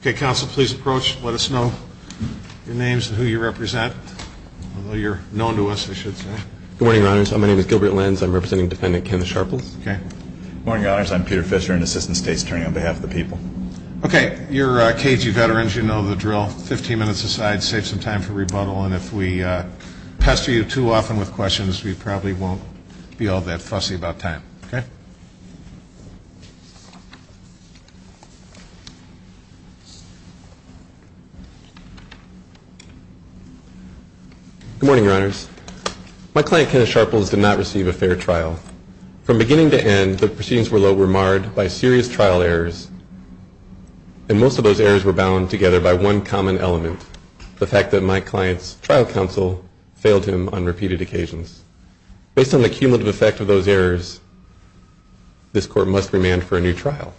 Okay, counsel, please approach, let us know your names and who you represent. Although you're known to us, I should say. Good morning, Your Honors. My name is Gilbert Lenz. I'm representing Defendant Kenneth Sharples. Okay. Good morning, Your Honors. I'm Peter Fisher, an Assistant State's Attorney on behalf of the people. Okay. You're KG veterans. You know the drill. Fifteen minutes aside. Save some time for rebuttal. And if we pester you too often with questions, we probably won't be all that fussy about time. Okay. Good morning, Your Honors. My client, Kenneth Sharples, did not receive a fair trial. From beginning to end, the proceedings were marred by serious trial errors, and most of those errors were bound together by one common element, the fact that my client's trial counsel failed him on repeated occasions. Based on the cumulative effect of those errors, this court must remand for a new trial.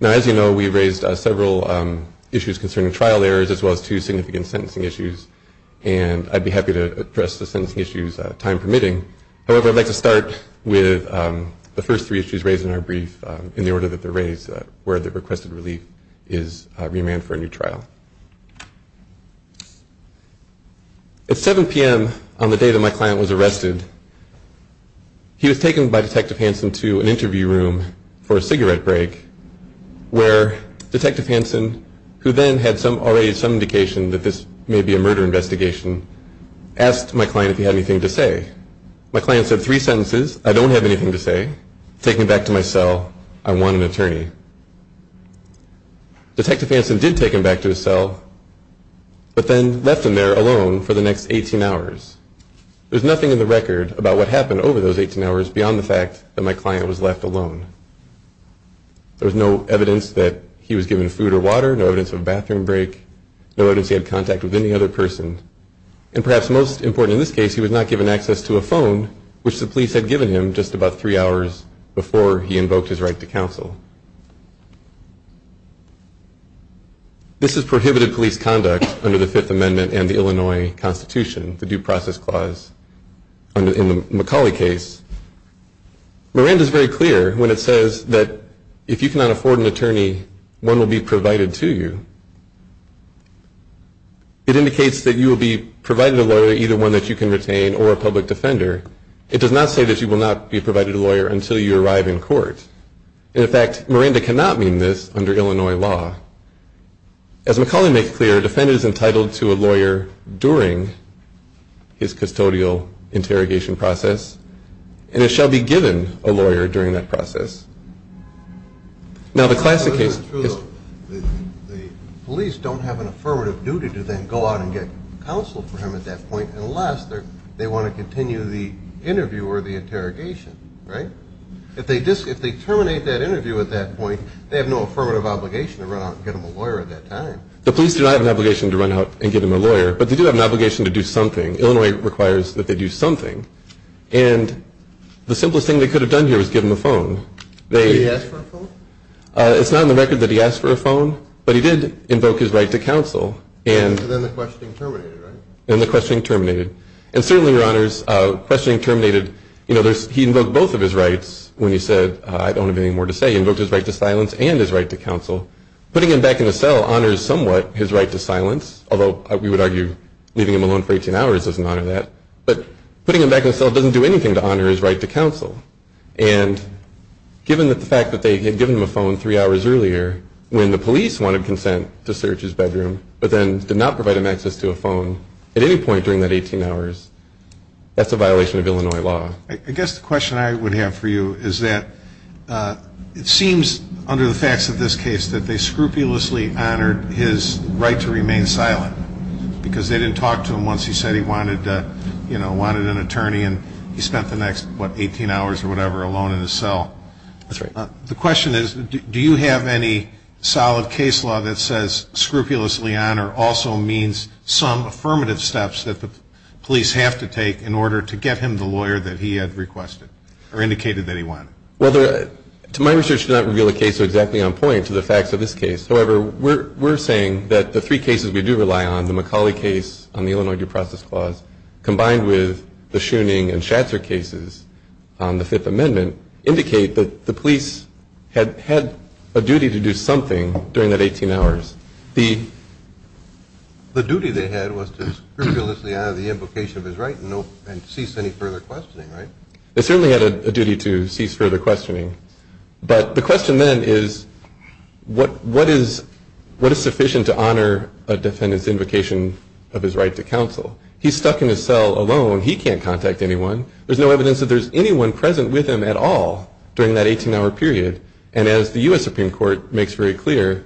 Now, as you know, we raised several issues concerning trial errors, as well as two significant sentencing issues, and I'd be happy to address the sentencing issues, time permitting. However, I'd like to start with the first three issues raised in our brief, in the order that they're raised, where the requested relief is remand for a new trial. At 7 p.m. on the day that my client was arrested, he was taken by Detective Hansen to an interview room for a cigarette break, where Detective Hansen, who then had already some indication that this may be a murder investigation, asked my client if he had anything to say. My client said three sentences, I don't have anything to say, Detective Hansen did take him back to his cell, but then left him there alone for the next 18 hours. There's nothing in the record about what happened over those 18 hours, beyond the fact that my client was left alone. There was no evidence that he was given food or water, no evidence of a bathroom break, no evidence he had contact with any other person, and perhaps most important in this case, he was not given access to a phone, which the police had given him just about three hours before he invoked his right to counsel. This has prohibited police conduct under the Fifth Amendment and the Illinois Constitution, the Due Process Clause in the McCauley case. Miranda's very clear when it says that if you cannot afford an attorney, one will be provided to you. It indicates that you will be provided a lawyer, either one that you can retain or a public defender. It does not say that you will not be provided a lawyer until you arrive in court. In fact, Miranda cannot mean this under Illinois law. As McCauley makes clear, a defendant is entitled to a lawyer during his custodial interrogation process, and it shall be given a lawyer during that process. The police don't have an affirmative duty to then go out and get counsel for him at that point unless they want to continue the interview or the interrogation, right? If they terminate that interview at that point, they have no affirmative obligation to run out and get him a lawyer at that time. The police do not have an obligation to run out and get him a lawyer, but they do have an obligation to do something. Illinois requires that they do something, and the simplest thing they could have done here was give him a phone. Did he ask for a phone? It's not on the record that he asked for a phone, but he did invoke his right to counsel. And then the questioning terminated, right? And the questioning terminated. And certainly, Your Honors, questioning terminated. You know, he invoked both of his rights when he said, I don't have anything more to say. He invoked his right to silence and his right to counsel. Putting him back in a cell honors somewhat his right to silence, although we would argue leaving him alone for 18 hours doesn't honor that. But putting him back in a cell doesn't do anything to honor his right to counsel. And given the fact that they had given him a phone three hours earlier when the police wanted consent to search his bedroom but then did not provide him access to a phone at any point during that 18 hours, that's a violation of Illinois law. I guess the question I would have for you is that it seems under the facts of this case that they scrupulously honored his right to remain silent because they didn't talk to him once he said he wanted an attorney and he spent the next, what, 18 hours or whatever alone in his cell. That's right. The question is, do you have any solid case law that says scrupulously honor also means some affirmative steps that the police have to take in order to get him the lawyer that he had requested or indicated that he wanted? Well, to my research, it does not reveal the case exactly on point to the facts of this case. However, we're saying that the three cases we do rely on, the McCauley case on the Illinois Due Process Clause, combined with the Schooning and Schatzer cases on the Fifth Amendment, indicate that the police had a duty to do something during that 18 hours. The duty they had was to scrupulously honor the invocation of his right and cease any further questioning, right? They certainly had a duty to cease further questioning. But the question then is, what is sufficient to honor a defendant's invocation of his right to counsel? He's stuck in his cell alone. He can't contact anyone. There's no evidence that there's anyone present with him at all during that 18-hour period. And as the U.S. Supreme Court makes very clear,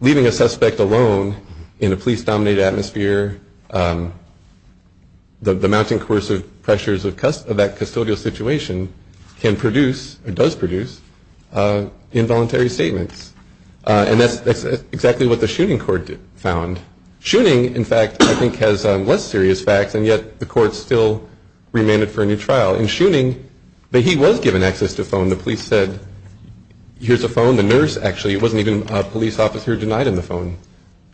leaving a suspect alone in a police-dominated atmosphere, the mounting coercive pressures of that custodial situation can produce or does produce involuntary statements. And that's exactly what the Schooning court found. Schooning, in fact, I think has less serious facts, and yet the court still remanded for a new trial. In Schooning, he was given access to a phone. The police said, here's a phone. The nurse, actually, it wasn't even a police officer who denied him the phone.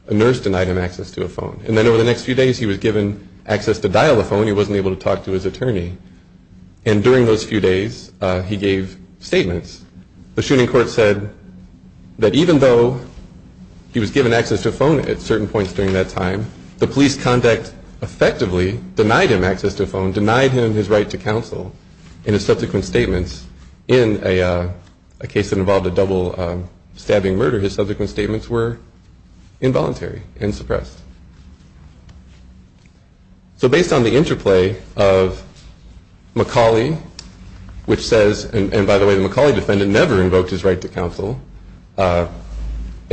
A nurse denied him access to a phone. And then over the next few days, he was given access to dial the phone. He wasn't able to talk to his attorney. And during those few days, he gave statements. The Schooning court said that even though he was given access to a phone at certain points during that time, the police contact effectively denied him access to a phone, denied him his right to counsel in his subsequent statements. In a case that involved a double-stabbing murder, his subsequent statements were involuntary and suppressed. So based on the interplay of McCauley, which says, and by the way, the McCauley defendant never invoked his right to counsel, and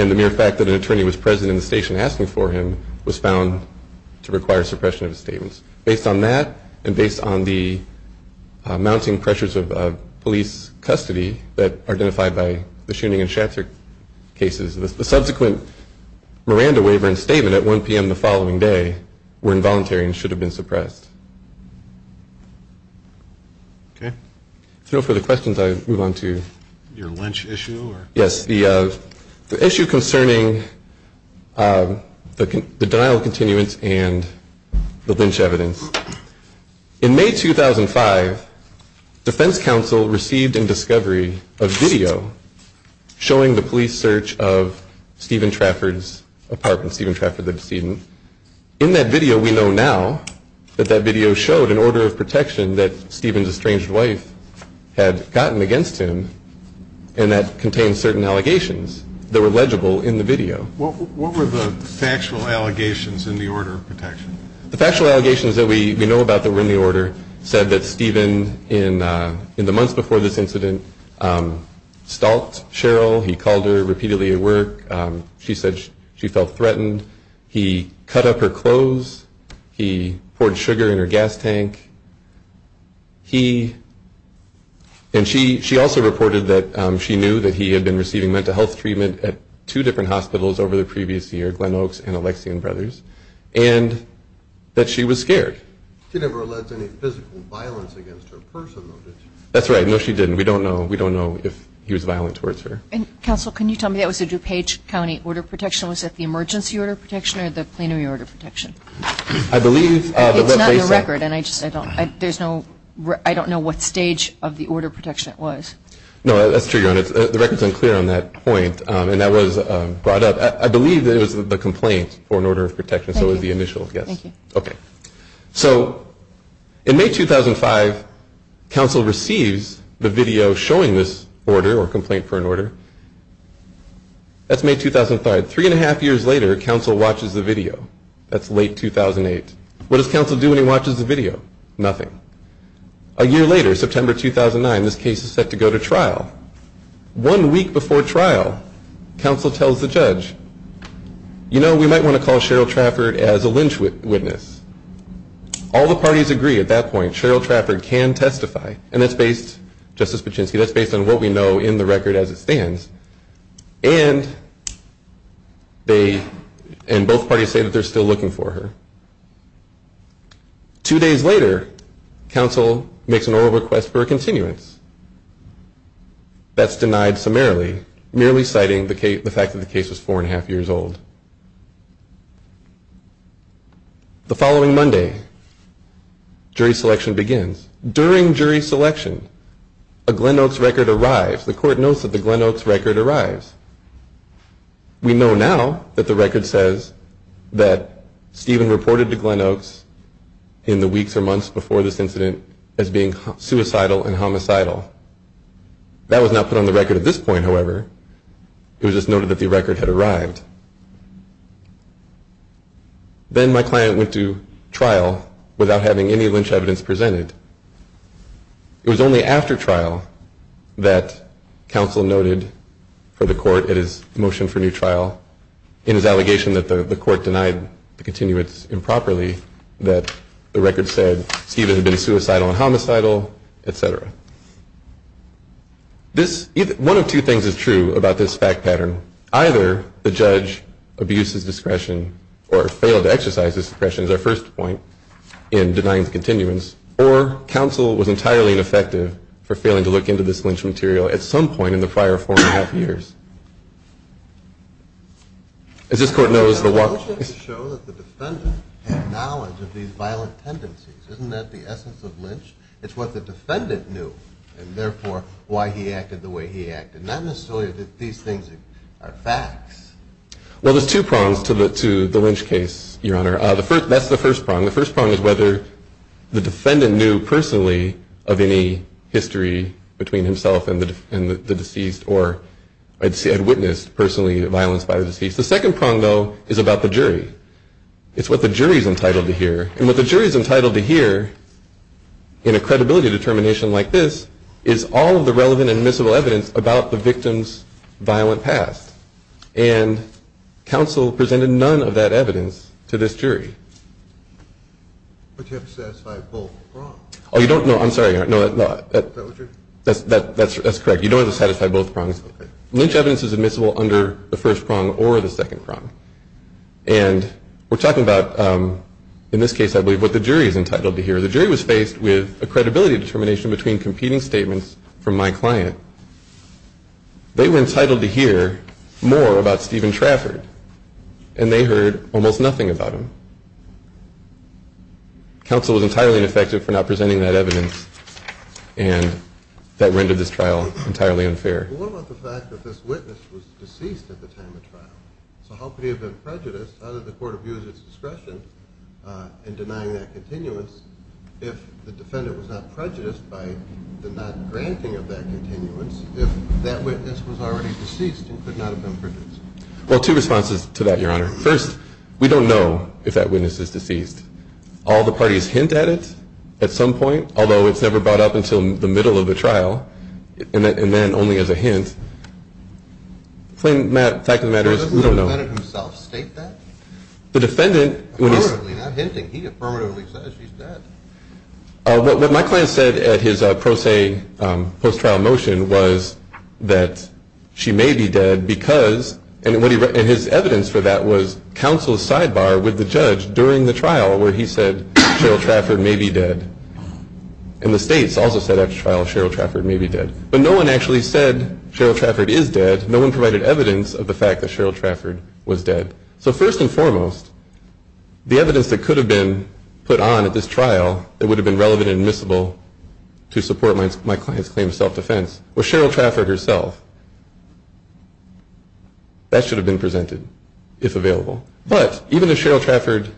the mere fact that an attorney was present in the station asking for him was found to require suppression of his statements. Based on that and based on the mounting pressures of police custody that are identified by the Schooning and Schatzer cases, the subsequent Miranda waiver and statement at 1 p.m. the following day were involuntary and should have been suppressed. Okay. So for the questions, I move on to your lynch issue. Yes. The issue concerning the denial of continuance and the lynch evidence. In May 2005, defense counsel received in discovery a video showing the police search of Stephen Trafford's apartment, Stephen Trafford the decedent. In that video we know now that that video showed an order of protection that Stephen's estranged wife had gotten against him and that contained certain allegations that were legible in the video. What were the factual allegations in the order of protection? The factual allegations that we know about that were in the order said that Stephen, in the months before this incident, stalked Cheryl. He called her repeatedly at work. She said she felt threatened. He cut up her clothes. He poured sugar in her gas tank. He and she also reported that she knew that he had been receiving mental health treatment at two different hospitals over the previous year, Glen Oaks and Alexian Brothers. And that she was scared. She never alleged any physical violence against her personally, did she? That's right. No, she didn't. We don't know. We don't know if he was violent towards her. Counsel, can you tell me that was a DuPage County order of protection? Was it the emergency order of protection or the plenary order of protection? I believe that what they said. It's not in the record. I don't know what stage of the order of protection it was. No, that's true. The record's unclear on that point. And that was brought up. I believe that it was the complaint for an order of protection, so it was the initial, yes. Thank you. Okay. So in May 2005, counsel receives the video showing this order or complaint for an order. That's May 2005. Three and a half years later, counsel watches the video. That's late 2008. What does counsel do when he watches the video? A year later, September 2009, this case is set to go to trial. One week before trial, counsel tells the judge, you know, we might want to call Cheryl Trafford as a lynch witness. All the parties agree at that point. Cheryl Trafford can testify. And that's based, Justice Paczynski, that's based on what we know in the record as it stands. And they, and both parties say that they're still looking for her. Two days later, counsel makes an oral request for a continuance. That's denied summarily, merely citing the fact that the case was four and a half years old. The following Monday, jury selection begins. During jury selection, a Glenn Oaks record arrives. The court knows that the Glenn Oaks record arrives. We know now that the record says that Stephen reported to Glenn Oaks in the weeks or months before this incident as being suicidal and homicidal. That was not put on the record at this point, however. It was just noted that the record had arrived. Then my client went to trial without having any lynch evidence presented. It was only after trial that counsel noted for the court at his motion for new trial in his allegation that the court denied the continuance improperly, that the record said Stephen had been suicidal and homicidal, et cetera. This, one of two things is true about this fact pattern. Either the judge abuses discretion or failed to exercise his discretion, is our first point, in denying the continuance, or counsel was entirely ineffective for failing to look into this lynch material at some point in the prior four and a half years. As this court knows, the walk... I'm just trying to show that the defendant had knowledge of these violent tendencies. Isn't that the essence of lynch? It's what the defendant knew, and therefore, why he acted the way he acted. Not necessarily that these things are facts. Well, there's two prongs to the lynch case, Your Honor. That's the first prong. The first prong is whether the defendant knew personally of any history between himself and the deceased, or had witnessed personally violence by the deceased. The second prong, though, is about the jury. It's what the jury's entitled to hear. And what the jury's entitled to hear, in a credibility determination like this, is all of the relevant admissible evidence about the victim's violent past. And counsel presented none of that evidence to this jury. But you have to satisfy both prongs. Oh, you don't? No, I'm sorry, Your Honor. No, that's correct. You don't have to satisfy both prongs. Okay. Lynch evidence is admissible under the first prong or the second prong. And we're talking about, in this case, I believe, what the jury's entitled to hear. The jury was faced with a credibility determination between competing statements from my client. They were entitled to hear more about Stephen Trafford, and they heard almost nothing about him. Counsel was entirely ineffective for not presenting that evidence, and that rendered this trial entirely unfair. Well, what about the fact that this witness was deceased at the time of trial? So how could he have been prejudiced? How did the court abuse its discretion in denying that continuance if the defendant was not prejudiced by the not granting of that continuance, if that witness was already deceased and could not have been prejudiced? Well, two responses to that, Your Honor. First, we don't know if that witness is deceased. All the parties hint at it at some point, although it's never brought up until the middle of the trial, and then only as a hint. The fact of the matter is we don't know. Did the defendant himself state that? The defendant... Affirmatively, not hinting. He affirmatively says she's dead. What my client said at his pro se post-trial motion was that she may be dead because, and his evidence for that was counsel's sidebar with the judge during the trial where he said Cheryl Trafford may be dead. And the states also said after trial Cheryl Trafford may be dead. But no one actually said Cheryl Trafford is dead. No one provided evidence of the fact that Cheryl Trafford was dead. So first and foremost, the evidence that could have been put on at this trial that would have been relevant and admissible to support my client's claim of self-defense was Cheryl Trafford herself. That should have been presented if available. But even if Cheryl Trafford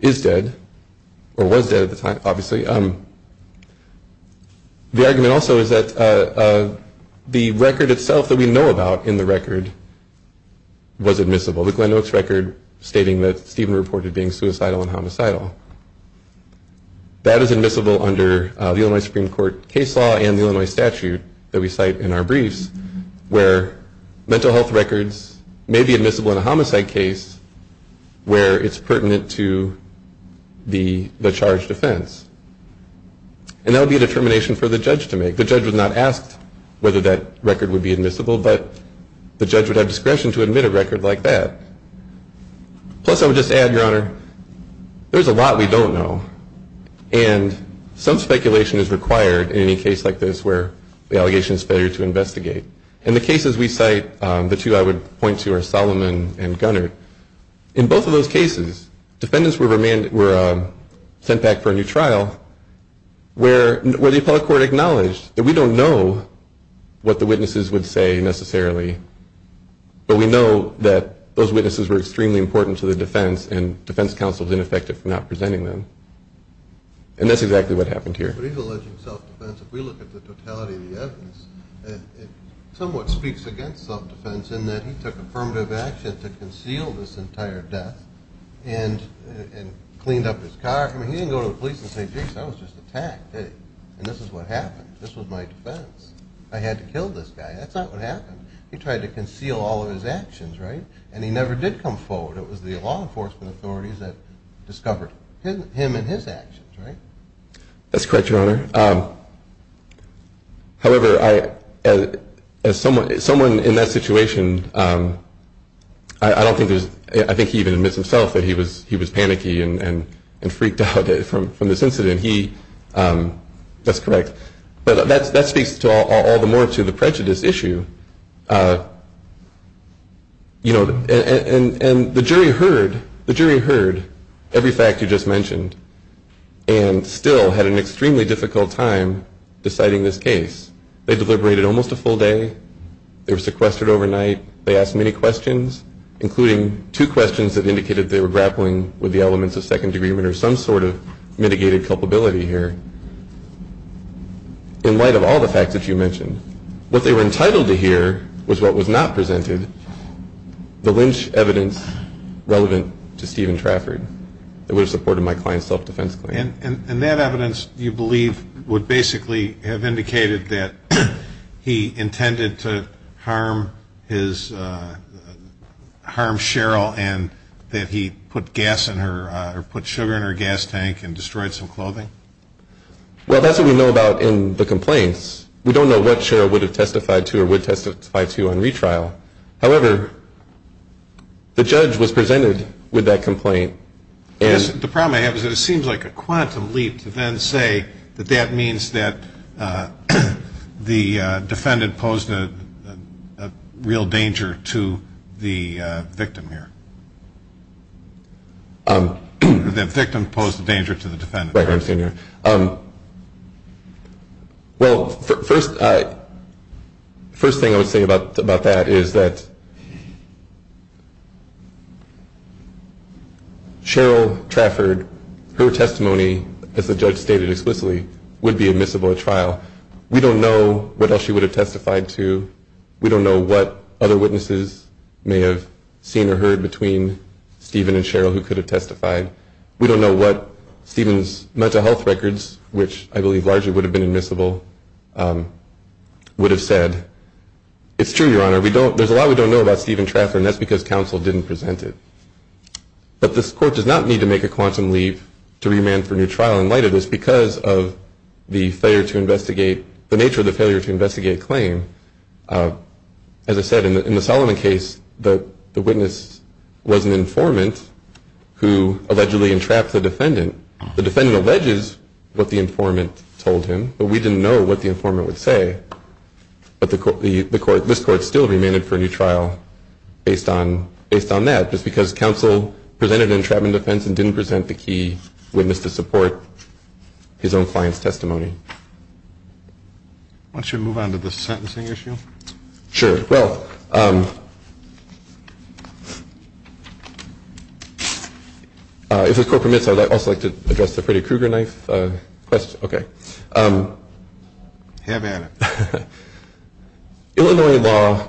is dead or was dead at the time, obviously, the argument also is that the record itself that we know about in the record was admissible. The Glenn Oaks record stating that Stephen reported being suicidal and homicidal. That is admissible under the Illinois Supreme Court case law and the Illinois statute that we cite in our briefs where mental health records may be admissible in a homicide case where it's pertinent to the charged offense. And that would be a determination for the judge to make. The judge would not ask whether that record would be admissible, but the judge would have discretion to admit a record like that. Plus, I would just add, Your Honor, there's a lot we don't know. And some speculation is required in any case like this where the allegation is fair to investigate. And the cases we cite, the two I would point to are Solomon and Gunnard. In both of those cases, defendants were sent back for a new trial where the appellate court acknowledged that we don't know what the witnesses would say necessarily, but we know that those witnesses were extremely important to the defense and defense counsel was ineffective for not presenting them. And that's exactly what happened here. But he's alleging self-defense. If we look at the totality of the evidence, it somewhat speaks against self-defense in that he took affirmative action to conceal this entire death and cleaned up his car. I mean, he didn't go to the police and say, geez, I was just attacked. And this is what happened. This was my defense. I had to kill this guy. That's not what happened. He tried to conceal all of his actions, right? And he never did come forward. It was the law enforcement authorities that discovered him and his actions, right? That's correct, Your Honor. However, as someone in that situation, I don't think there's – I think he even admits himself that he was panicky and freaked out from this incident. He – that's correct. But that speaks all the more to the prejudice issue. And the jury heard every fact you just mentioned and still had an extremely difficult time deciding this case. They deliberated almost a full day. They were sequestered overnight. They asked many questions, including two questions that indicated they were grappling with the elements of second-degree murder, some sort of mitigated culpability here. In light of all the facts that you mentioned, what they were entitled to hear was what was not presented, the lynch evidence relevant to Stephen Trafford that would have supported my client's self-defense claim. And that evidence, you believe, would basically have indicated that he intended to harm his – harm Cheryl and that he put gas in her – or put sugar in her gas tank and destroyed some clothing? Well, that's what we know about in the complaints. We don't know what Cheryl would have testified to or would testify to on retrial. However, the judge was presented with that complaint. The problem I have is that it seems like a quantum leap to then say that that means that the defendant posed a real danger to the victim here. The victim posed a danger to the defendant. Right. I understand. Well, first thing I would say about that is that Cheryl Trafford, her testimony, as the judge stated explicitly, would be admissible at trial. We don't know what else she would have testified to. We don't know what other witnesses may have seen or heard between Stephen and Cheryl who could have testified. We don't know what Stephen's mental health records, which I believe largely would have been admissible, would have said. It's true, Your Honor. We don't – there's a lot we don't know about Stephen Trafford and that's because counsel didn't present it. But this court does not need to make a quantum leap to remand for new trial in light of this because of the failure to investigate – the nature of the failure to investigate claim. As I said, in the Solomon case, the witness was an informant who allegedly entrapped the defendant. The defendant alleges what the informant told him, but we didn't know what the informant would say. But the court – this court still remanded for a new trial based on that just because counsel presented an entrapment offense and didn't present the key witness to support his own client's testimony. Why don't you move on to the sentencing issue? Sure. Well, if the court permits, I would also like to address the Freddy Krueger knife question. Okay. Have at it. Illinois law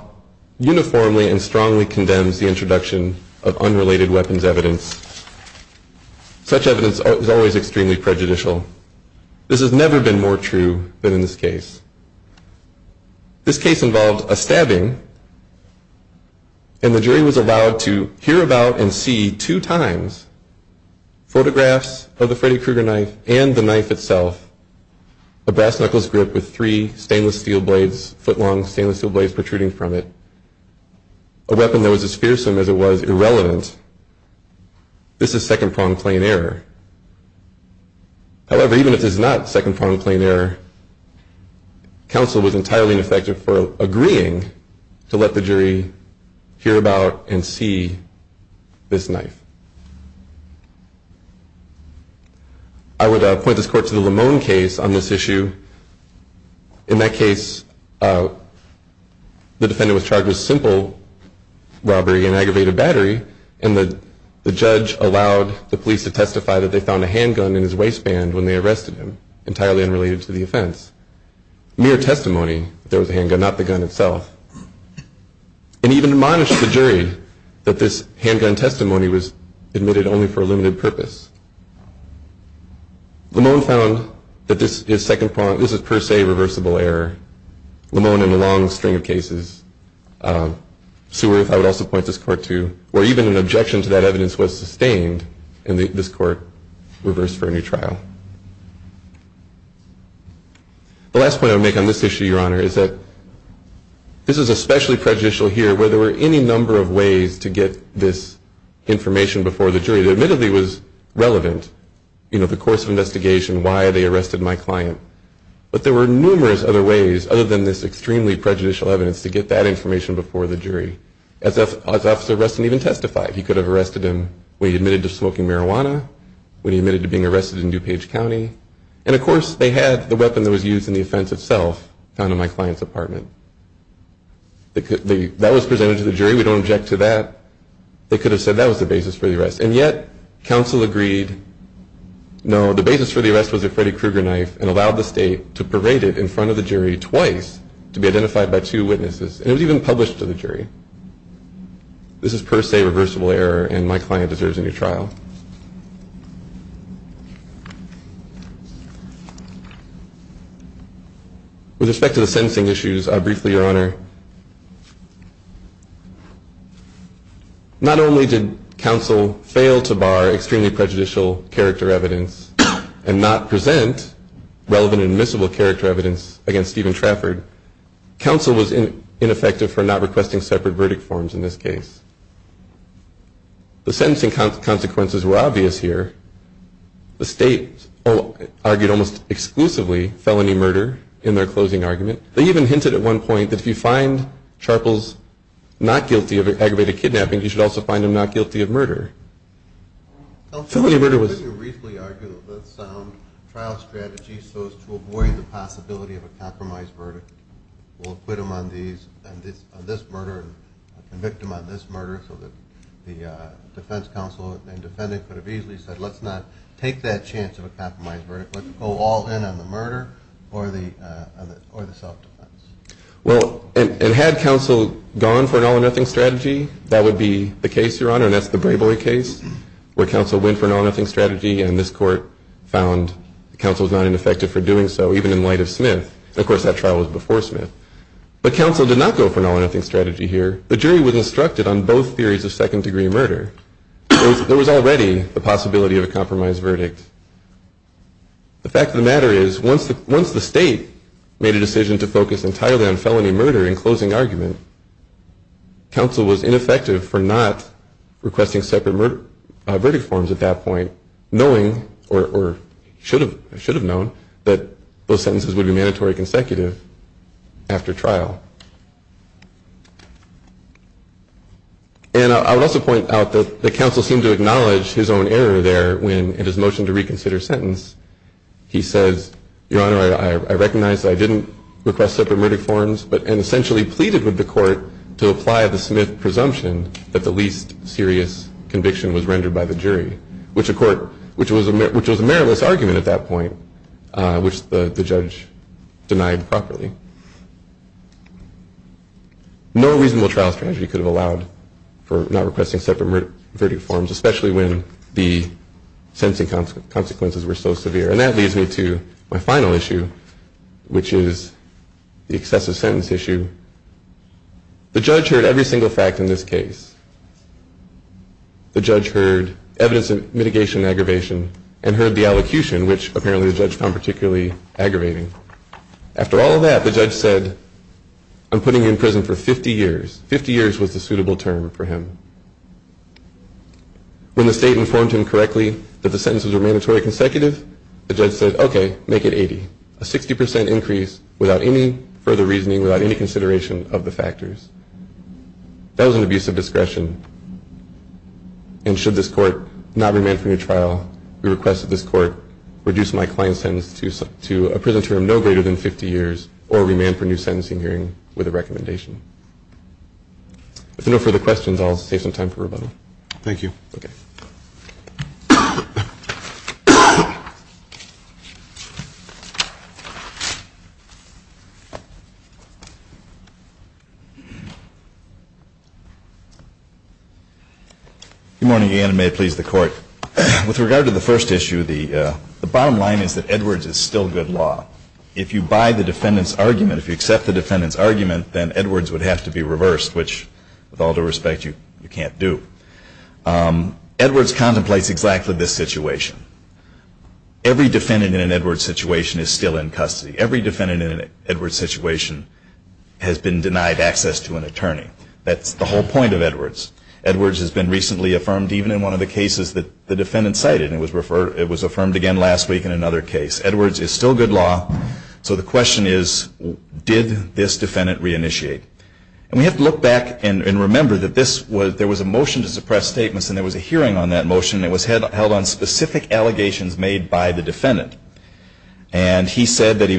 uniformly and strongly condemns the introduction of unrelated weapons evidence. Such evidence is always extremely prejudicial. This has never been more true than in this case. This case involved a stabbing and the jury was allowed to hear about and see two times photographs of the Freddy Krueger knife and the knife itself, a brass knuckles grip with three stainless steel blades, foot-long stainless steel blades protruding from it, a weapon that was as fearsome as it was irrelevant. This is second-pronged plain error. However, even if it is not second-pronged plain error, counsel was entirely ineffective for agreeing to let the jury hear about and see this knife. I would point this court to the Lamone case on this issue. In that case, the defendant was charged with simple robbery and aggravated battery and the judge allowed the police to testify that they found a handgun in his waistband when they arrested him, entirely unrelated to the offense. Mere testimony, there was a handgun, not the gun itself. And even admonished the jury that this handgun testimony was admitted only for a limited purpose. Lamone found that this is second-pronged, this is per se reversible error. Lamone in a long string of cases, Seaworth I would also point this court to, where even an objection to that evidence was sustained and this court reversed for a new trial. The last point I would make on this issue, Your Honor, is that this is especially prejudicial here where there were any number of ways to get this information before the jury. It admittedly was relevant, you know, the course of investigation, why they arrested my client, but there were numerous other ways, other than this extremely prejudicial evidence, to get that information before the jury. As Officer Rustin even testified, he could have arrested him when he admitted to smoking marijuana, when he admitted to being arrested in DuPage County, and of course they had the weapon that was used in the offense itself found in my client's apartment. That was presented to the jury, we don't object to that. They could have said that was the basis for the arrest, and yet counsel agreed, no, the basis for the arrest was a Freddy Krueger knife and allowed the state to parade it in front of the jury twice to be identified by two witnesses, and it was even published to the jury. This is per se reversible error and my client deserves a new trial. With respect to the sentencing issues, I'll briefly, Your Honor, not only did counsel fail to bar extremely prejudicial character evidence and not present relevant and admissible character evidence against Stephen Trafford, counsel was ineffective for not requesting separate verdict forms in this case. The state argued almost exclusively felony murder in their closing argument. They even hinted at one point that if you find Charples not guilty of aggravated kidnapping, you should also find him not guilty of murder. Felony murder was... Counsel briefly argued that the sound trial strategy so as to avoid the possibility of a compromise verdict will acquit him on this murder and convict him on this murder so that the defense counsel and defendant could have easily said, let's not take that chance of a compromise verdict. Let's go all in on the murder or the self-defense. Well, and had counsel gone for an all-or-nothing strategy, that would be the case, Your Honor, and that's the Brayboy case where counsel went for an all-or-nothing strategy and this court found counsel was not ineffective for doing so, even in light of Smith. Of course, that trial was before Smith. But counsel did not go for an all-or-nothing strategy here. The jury was instructed on both theories of second-degree murder. There was already the possibility of a compromise verdict. The fact of the matter is, once the state made a decision to focus entirely on felony murder in closing argument, counsel was ineffective for not requesting separate verdict forms at that point, knowing, or should have known, that those sentences would be mandatory consecutive after trial. And I would also point out that the counsel seemed to acknowledge his own error there when, in his motion to reconsider sentence, he says, Your Honor, I recognize that I didn't request separate verdict forms and essentially pleaded with the court to apply the Smith presumption that the least serious conviction was rendered by the jury, which was a meritless argument at that point, which the judge denied properly. No reasonable trial strategy could have allowed for not requesting separate verdict forms, especially when the sentencing consequences were so severe. And that leads me to my final issue, which is the excessive sentence issue. The judge heard every single fact in this case. The judge heard evidence of mitigation and aggravation and heard the allocution, which apparently the judge found particularly aggravating. After all of that, the judge said, I'm putting you in prison for 50 years. Fifty years was the suitable term for him. When the state informed him correctly that the sentences were mandatory consecutive, the judge said, OK, make it 80, a 60 percent increase without any further reasoning, without any consideration of the factors. That was an abuse of discretion. And should this court not remand from your trial, we request that this court reduce my client's sentence to a prison term no greater than 50 years or remand for new sentencing hearing with a recommendation. If there are no further questions, I'll save some time for rebuttal. Thank you. Good morning, Ian, and may it please the Court. With regard to the first issue, the bottom line is that Edwards is still good law. If you buy the defendant's argument, if you accept the defendant's argument, then Edwards would have to be reversed, which, with all due respect, you can't do. Edwards contemplates exactly this situation. Every defendant in an Edwards situation is still in custody. Every defendant in an Edwards situation has been denied access to an attorney. That's the whole point of Edwards. Edwards has been recently affirmed even in one of the cases that the defendant cited. It was affirmed again last week in another case. Edwards is still good law, so the question is, did this defendant reinitiate? And we have to look back and remember that there was a motion to suppress statements and there was a hearing on that motion and it was held on specific allegations made by the defendant. And he said that he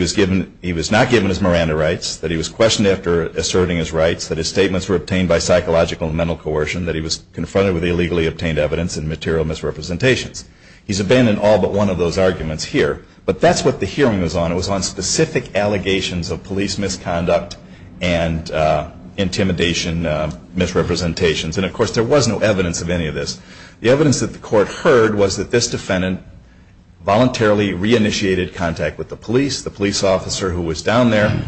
was not given his Miranda rights, that he was questioned after asserting his rights, that his statements were obtained by psychological and mental coercion, that he was confronted with illegally obtained evidence and he's abandoned all but one of those arguments here. But that's what the hearing was on. It was on specific allegations of police misconduct and intimidation, misrepresentations. And, of course, there was no evidence of any of this. The evidence that the court heard was that this defendant voluntarily reinitiated contact with the police. The police officer who was down there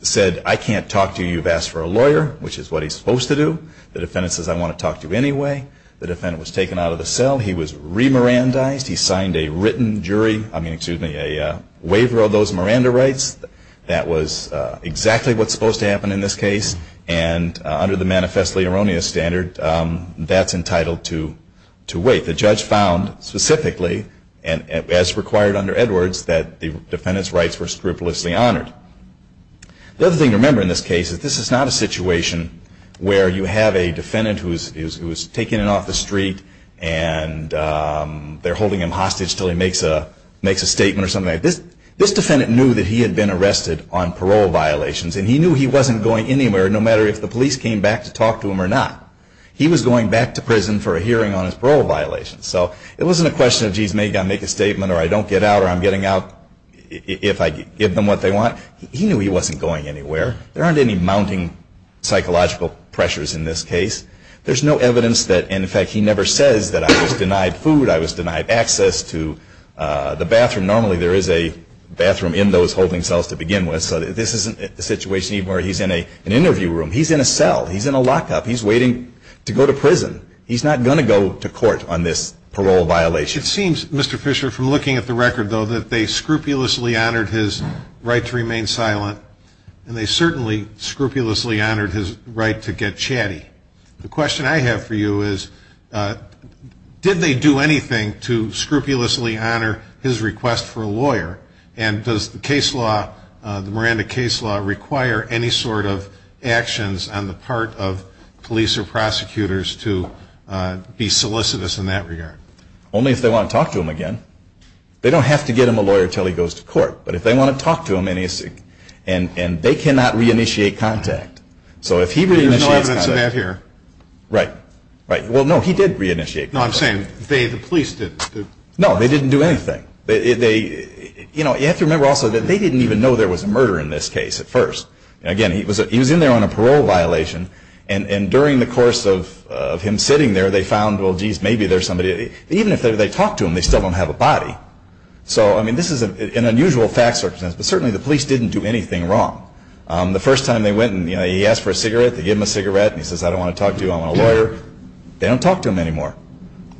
said, I can't talk to you. You've asked for a lawyer, which is what he's supposed to do. The defendant says, I want to talk to you anyway. He was re-Mirandaized. He signed a written jury, I mean, excuse me, a waiver of those Miranda rights. That was exactly what's supposed to happen in this case. And under the manifestly erroneous standard, that's entitled to wait. The judge found specifically, as required under Edwards, that the defendant's rights were scrupulously honored. The other thing to remember in this case is this is not a situation where you have a defendant who's taken off the street and they're holding him hostage until he makes a statement or something like that. This defendant knew that he had been arrested on parole violations, and he knew he wasn't going anywhere no matter if the police came back to talk to him or not. He was going back to prison for a hearing on his parole violations. So it wasn't a question of, geez, maybe I'll make a statement or I don't get out or I'm getting out if I give them what they want. He knew he wasn't going anywhere. There aren't any mounting psychological pressures in this case. There's no evidence that, and in fact he never says that I was denied food, I was denied access to the bathroom. Normally there is a bathroom in those holding cells to begin with. So this isn't a situation even where he's in an interview room. He's in a cell. He's in a lockup. He's waiting to go to prison. He's not going to go to court on this parole violation. It seems, Mr. Fisher, from looking at the record, though, that they scrupulously honored his right to get chatty. The question I have for you is, did they do anything to scrupulously honor his request for a lawyer? And does the case law, the Miranda case law, require any sort of actions on the part of police or prosecutors to be solicitous in that regard? Only if they want to talk to him again. They don't have to get him a lawyer until he goes to court. But if they want to talk to him and they cannot re-initiate contact. So if he re-initiates contact... There's no evidence of that here. Right. Well, no, he did re-initiate contact. No, I'm saying the police didn't do... No, they didn't do anything. You have to remember also that they didn't even know there was a murder in this case at first. Again, he was in there on a parole violation and during the course of him sitting there, they found, well, geez, maybe there's somebody... Even if they talk to him, they still don't have a body. So, I mean, this is an unusual fact circumstance, but certainly the police didn't do anything wrong. The first time they went and he asked for a cigarette, they gave him a cigarette, and he says, I don't want to talk to you, I want a lawyer, they don't talk to him anymore.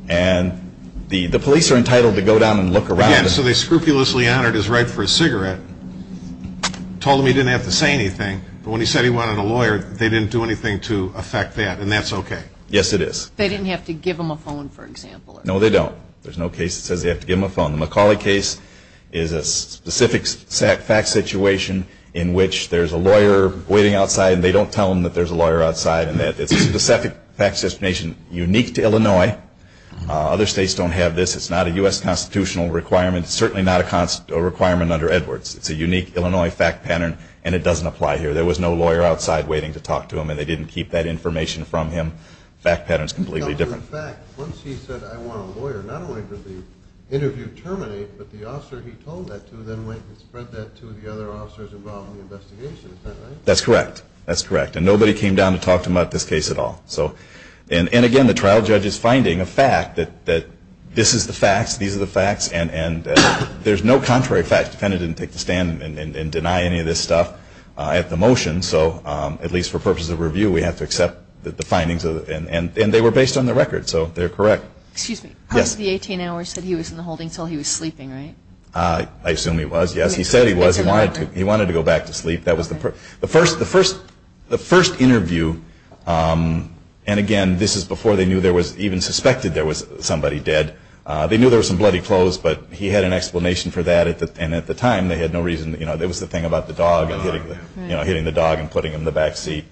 And the police are entitled to go down and look around... Again, so they scrupulously honored his right for a cigarette, told him he didn't have to say anything, but when he said he wanted a lawyer, they didn't do anything to affect that, and that's okay. Yes, it is. They didn't have to give him a phone, for example. No, they don't. There's no case that says they have to give him a phone. The McCauley case is a specific fact situation in which there's a lawyer waiting outside and they don't tell them that there's a lawyer outside and that it's a specific fact situation unique to Illinois. Other states don't have this. It's not a U.S. constitutional requirement. It's certainly not a requirement under Edwards. It's a unique Illinois fact pattern that they didn't have anybody to talk to him, and they didn't keep that information from him. Fact pattern is completely different. In fact, once he said, I want a lawyer, not only did the interview terminate, but the officer he told that to then went and spread that to the other officers involved in the investigation. Is that right? That's correct. That's correct. And nobody came down to talk to him about this case at all. And again, the trial judge said for purposes of review we have to accept the findings. And they were based on the record, so they're correct. Excuse me. Yes. Part of the 18 hours said he was in the holding until he was sleeping, right? I assume he was, yes. He said he was. He wanted to go back to sleep. That was the first interview. And again, this is before they knew there was even suspected there was somebody dead. They knew there was some bloody clothes, but he had an explanation for that. And at the time, they had no reason, it was the thing about the dog and hitting the dog and putting him in the back seat.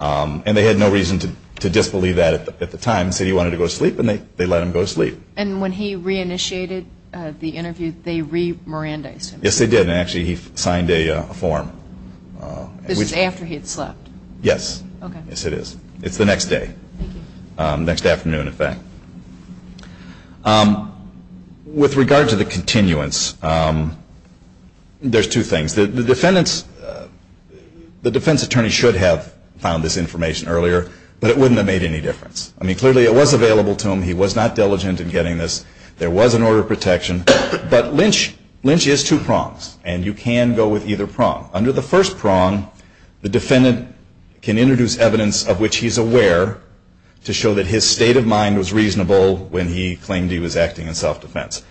And they had no reason to disbelieve that at the time. They said he wanted to go to sleep and they let him go to sleep. And when he re-initiated the interview, they re-mirandized him? Yes, they did. And actually he signed a form. This is after he had slept? Yes. Yes, it is. It's the next day. Thank you. Next afternoon, in fact. With regard to the continuance, there's two things. The defendant's, the defense attorney should have found this information earlier, but it wouldn't have made any difference. I mean, clearly it was available to him. He was not diligent in getting this. There was an order of protection. But Lynch, Lynch is two prongs. And you can go with either prong. Under the first prong, the defendant can introduce evidence of which he's aware to show that his state of mind was reasonable when he claimed he was acting in self-defense.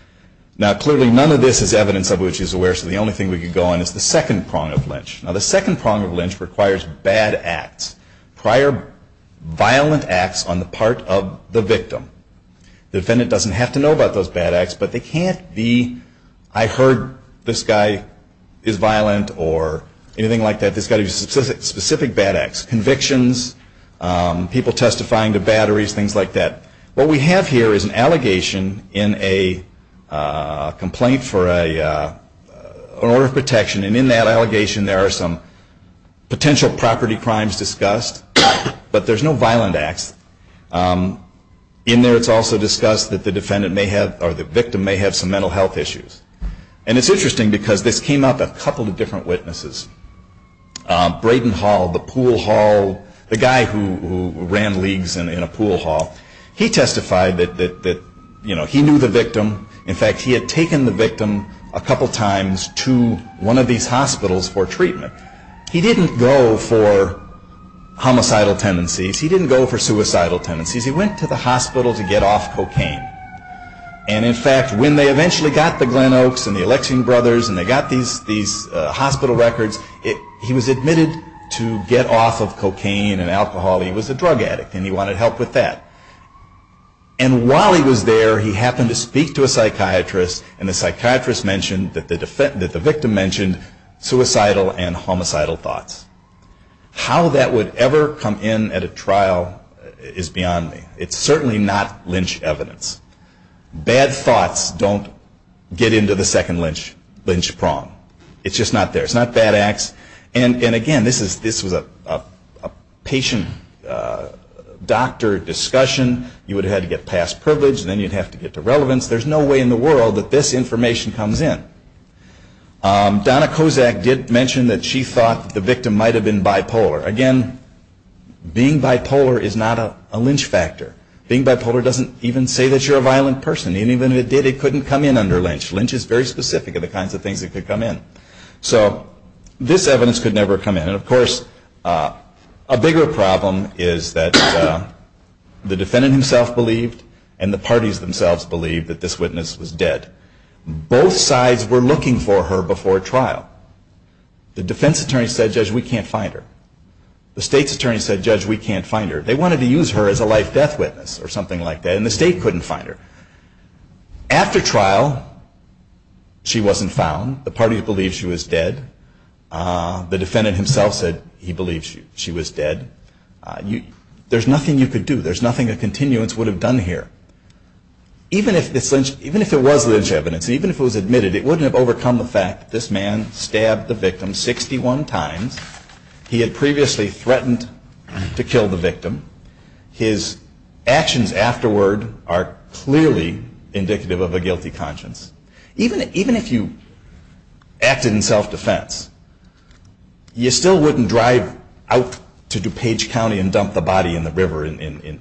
Now, clearly none of this is evidence of which he's aware, so the only thing we could go on is the second prong of Lynch. Now, the second prong of Lynch requires bad acts, prior violent acts on the part of the victim. The defendant doesn't have to know about those bad acts, but they can't be, I heard this guy is violent or anything like that. This guy did specific bad acts, convictions, people testifying to batteries, things like that. What we have here is an allegation in a complaint for a order of protection. And in that allegation, there are some potential property crimes discussed, but there's no violent acts. In there, it's also discussed that the defendant may have, or the victim may have some mental health issues. And it's interesting because this came up a couple of different witnesses. Braden Hall, the pool hall, the guy who ran leagues in a pool hall, he testified that he knew the victim. In fact, he had taken the victim a couple times to one of these hospitals for treatment. He didn't go for homicidal tendencies. He didn't go for suicidal tendencies. He went to the hospital to get off cocaine. And in fact, when they eventually got the Glen Oaks and the Alexing brothers and they got these hospital records, he was admitted to get off of cocaine and alcohol. He was a drug addict and he wanted help with that. And while he was there, he happened to speak to a psychiatrist and the psychiatrist mentioned that the victim mentioned suicidal and homicidal thoughts. How that would ever come in at a trial is beyond me. It's certainly not lynch evidence. Bad thoughts don't get into the second lynch prong. It's just not there. It's not bad acts. And again, this was a patient doctor discussion you would have had to get past privilege and then you'd have to get to relevance. There's no way in the world that this information comes in. Donna Kozak did mention that she thought that the victim might have been bipolar. Again, being bipolar is not a lynch factor. Being bipolar doesn't even say that you're a violent person. And even if it did, it couldn't come in under lynch. Lynch is very specific in the kinds of things that could come in. So, this evidence could never come in. And of course, a bigger problem is that the defendant himself believed and the parties themselves believed that this witness was dead. Both sides were looking for her before trial. The defense attorney said, Judge, we can't find her. The state's attorney said, Judge, we can't find her. They wanted to use her as a life-death witness or something like that and the state couldn't find her. After trial, she wasn't found. The parties believed she was dead. The defendant himself said he believed she was dead. There's nothing you could do. There's nothing a continuance would have done here. Even if it was lynch evidence, even if it was admitted, it wouldn't have overcome the fact that this man stabbed the victim 61 times. He had previously threatened His actions afterward are clearly indicative of a guilty conscience. Even if you acted in self-defense, you still wouldn't drive the defense attorney away out to DuPage County and dump the body in the river in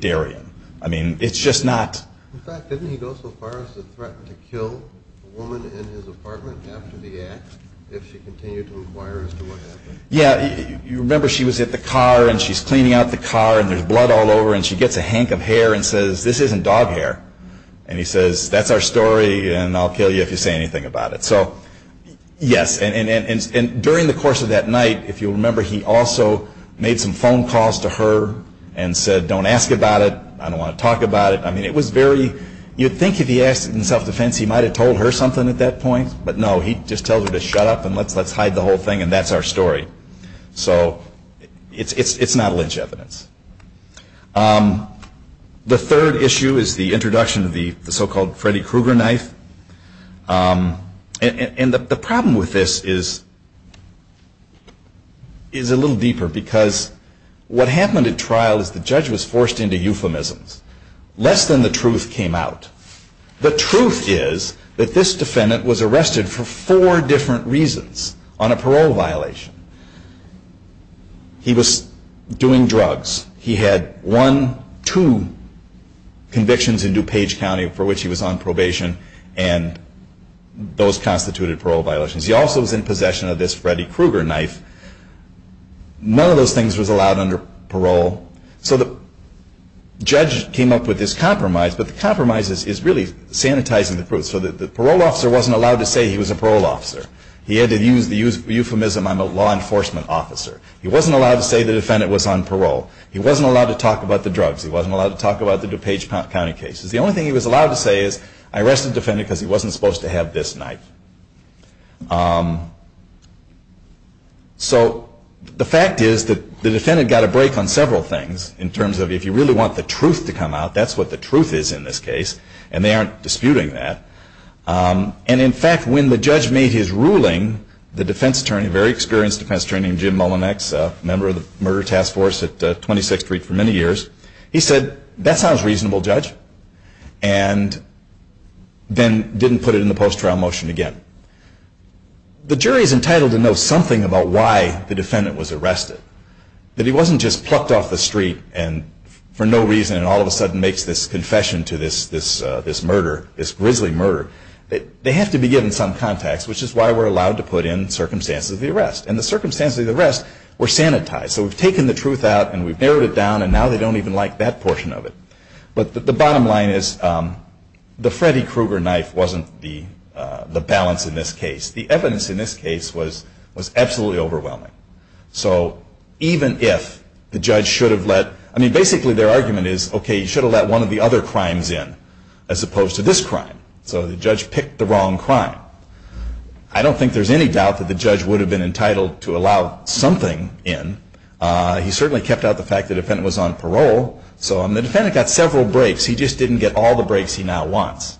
Darien. I mean, it's just not In fact, didn't he go so far as to threaten to kill a woman in his apartment after the act if she continued to inquire as to what happened? Yeah, you remember she was at the car and she's cleaning out the car and there's blood all over and she gets a hank of hair and says, this isn't dog hair. And he says, that's our story and I'll kill you if you say anything about it. So, yes, and during the course of that night, if you'll remember, he also made some phone calls to her and said, don't ask about it, I don't want to talk about it. I mean, it was very, you'd think if he asked in self-defense, he might have told her something at that point, but no, he just tells her to shut up and let's hide the whole thing and that's our story. So, it's not lynch evidence. The third issue is the introduction of the so-called Freddy Krueger knife and the problem with this is a little deeper because what happened at trial is the judge was forced into euphemisms. Less than the truth came out. The truth is that this defendant was arrested for four different reasons. On one hand, he was on a parole violation. He was doing drugs. He had one, two convictions in DuPage County for which he was on probation and those constituted parole violations. He also was in possession of this Freddy Krueger knife. None of those things was allowed under parole so the judge came up with this compromise but the compromise is really sanitizing the proof so the parole officer wasn't allowed to say he was a parole officer. He had to use the euphemism I'm a law enforcement officer. He wasn't allowed to say the defendant was on parole. He wasn't allowed to talk about the crime. That's what the truth is. In fact when the judge made his ruling the defense attorney said that sounds reasonable judge and didn't put it in the post trial motion again. The jury is entitled to know something about why the defendant was arrested. That he wasn't just plucked off the street and for no reason makes this confession to this murder this grisly murder. They have to be given some context which is why we're allowed to put in circumstances of the arrest. The circumstances of the arrest were sanitized. So we've taken the truth out and we've narrowed it down and now they don't even like that portion of it. The bottom line is the Freddy Kruger knife wasn't the balance in this case. The evidence in this case was overwhelming. So even if the judge should have let one of the other crimes in as opposed to this crime. I don't think there's any doubt that the judge would have been entitled to allow something in. He certainly kept out the fact the defendant was on parole. So the defendant got several breaks. He just didn't get all the breaks he now wants.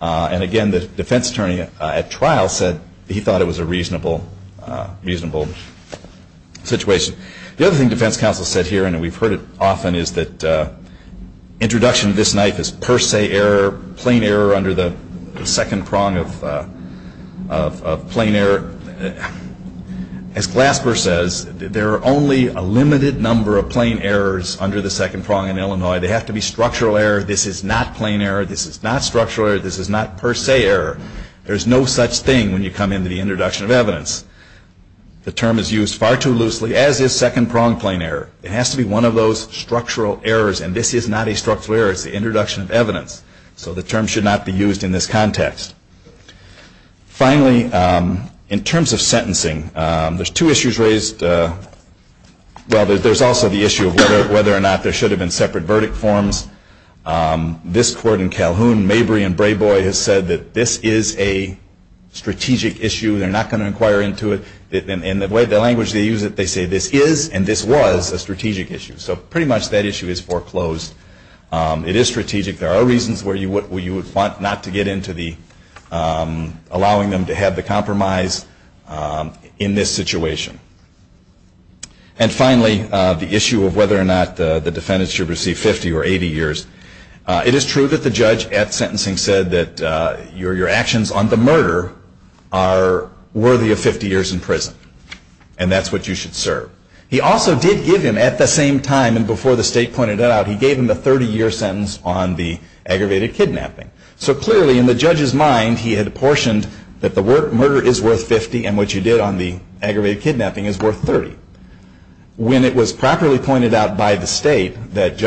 And again, the defense attorney at trial said he thought it was a reasonable situation. The other thing defense counsel said here, and we've heard it often, is that introduction of this knife is per se error, plain error under the second prong of plain error. As you know, this is not structural error, this is not per se error. There's no such thing when you come into the introduction of evidence. The term is used far too loosely as is second prong plain error. It has to be one of those structural errors, and this is not a structural error, it's the introduction of evidence, so the term should not be used in this context. Finally, in terms of sentencing, there's two issues raised, well, there's also the issue of whether or not there should have been separate verdict in this case. There's also the issue received 50 or less sentences in this case. There's also the issue of whether or not the defendant should have served 30 or 80 years. It is true that the judge at sentencing said that your actions on the murder are worthy of 50 years in prison, and that's what you should serve. He also did give him the 30 year sentence on the aggravated kidnapping. So clearly in the judge's mind he had portioned that the murder is worth 50 and what you did on the aggravated kidnapping is worth 30. When it was properly pointed out by the state a handgun should never ever go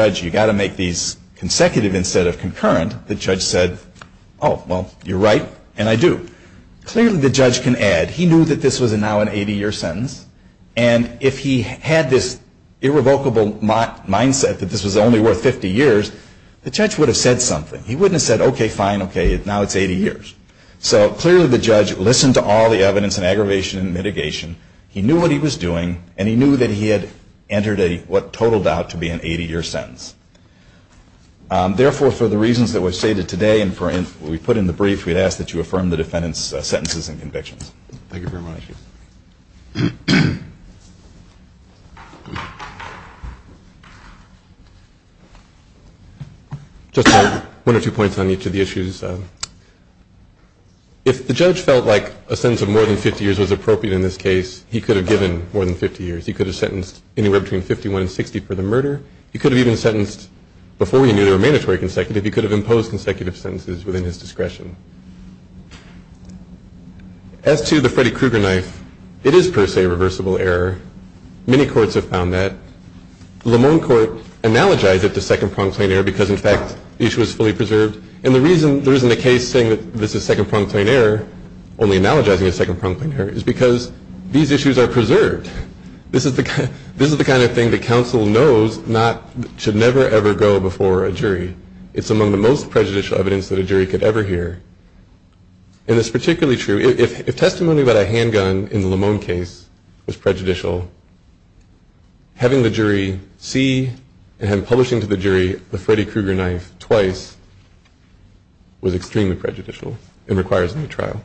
before a jury, it's among the most prejudicial evidence that a jury could ever hear. And it's particularly true. If testimony about a handgun in the Lamone case was prejudicial, having the jury see and have publishing to the jury the Freddy Kruger knife twice was extremely prejudicial and requires a new trial.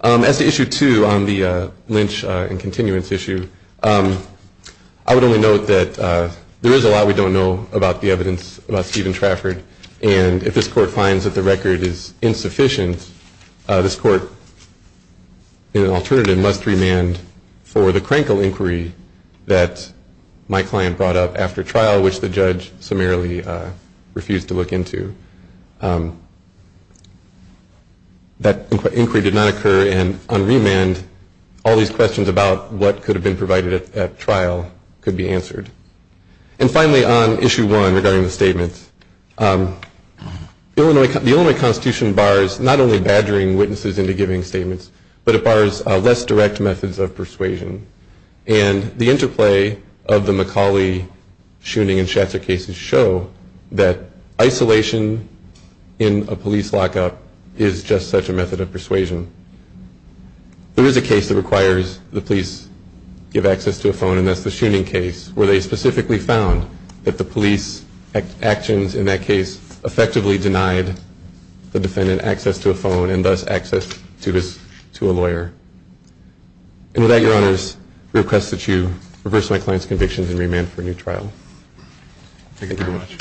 As to issue two on the Lynch and continuance issue, I would only note that there is a lot we don't know about the evidence about Stephen Trafford and if this court finds that the record is insufficient, this court in an alternative must remand for the Krankle inquiry that my client brought up after trial which the judge summarily refused to look into. That inquiry did not occur and on remand all these questions about what could have been provided at trial could be answered. And finally on issue one regarding the statements, the Illinois Constitution bars not only badgering witnesses into giving statements but it bars less direct methods of persuasion and the interplay of the McCauley shooning and Schatzer cases show that isolation in a police lockup is just such a method of persuasion. There is a case that requires the police to give access to a phone and that's the shooning case where they specifically found that the police actions in that case effectively denied the client's convictions and remand for a new trial. Thank you very much.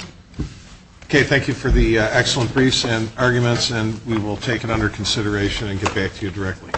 Okay, thank you for the excellent briefs and arguments and we will take it under consideration and get back to you directly.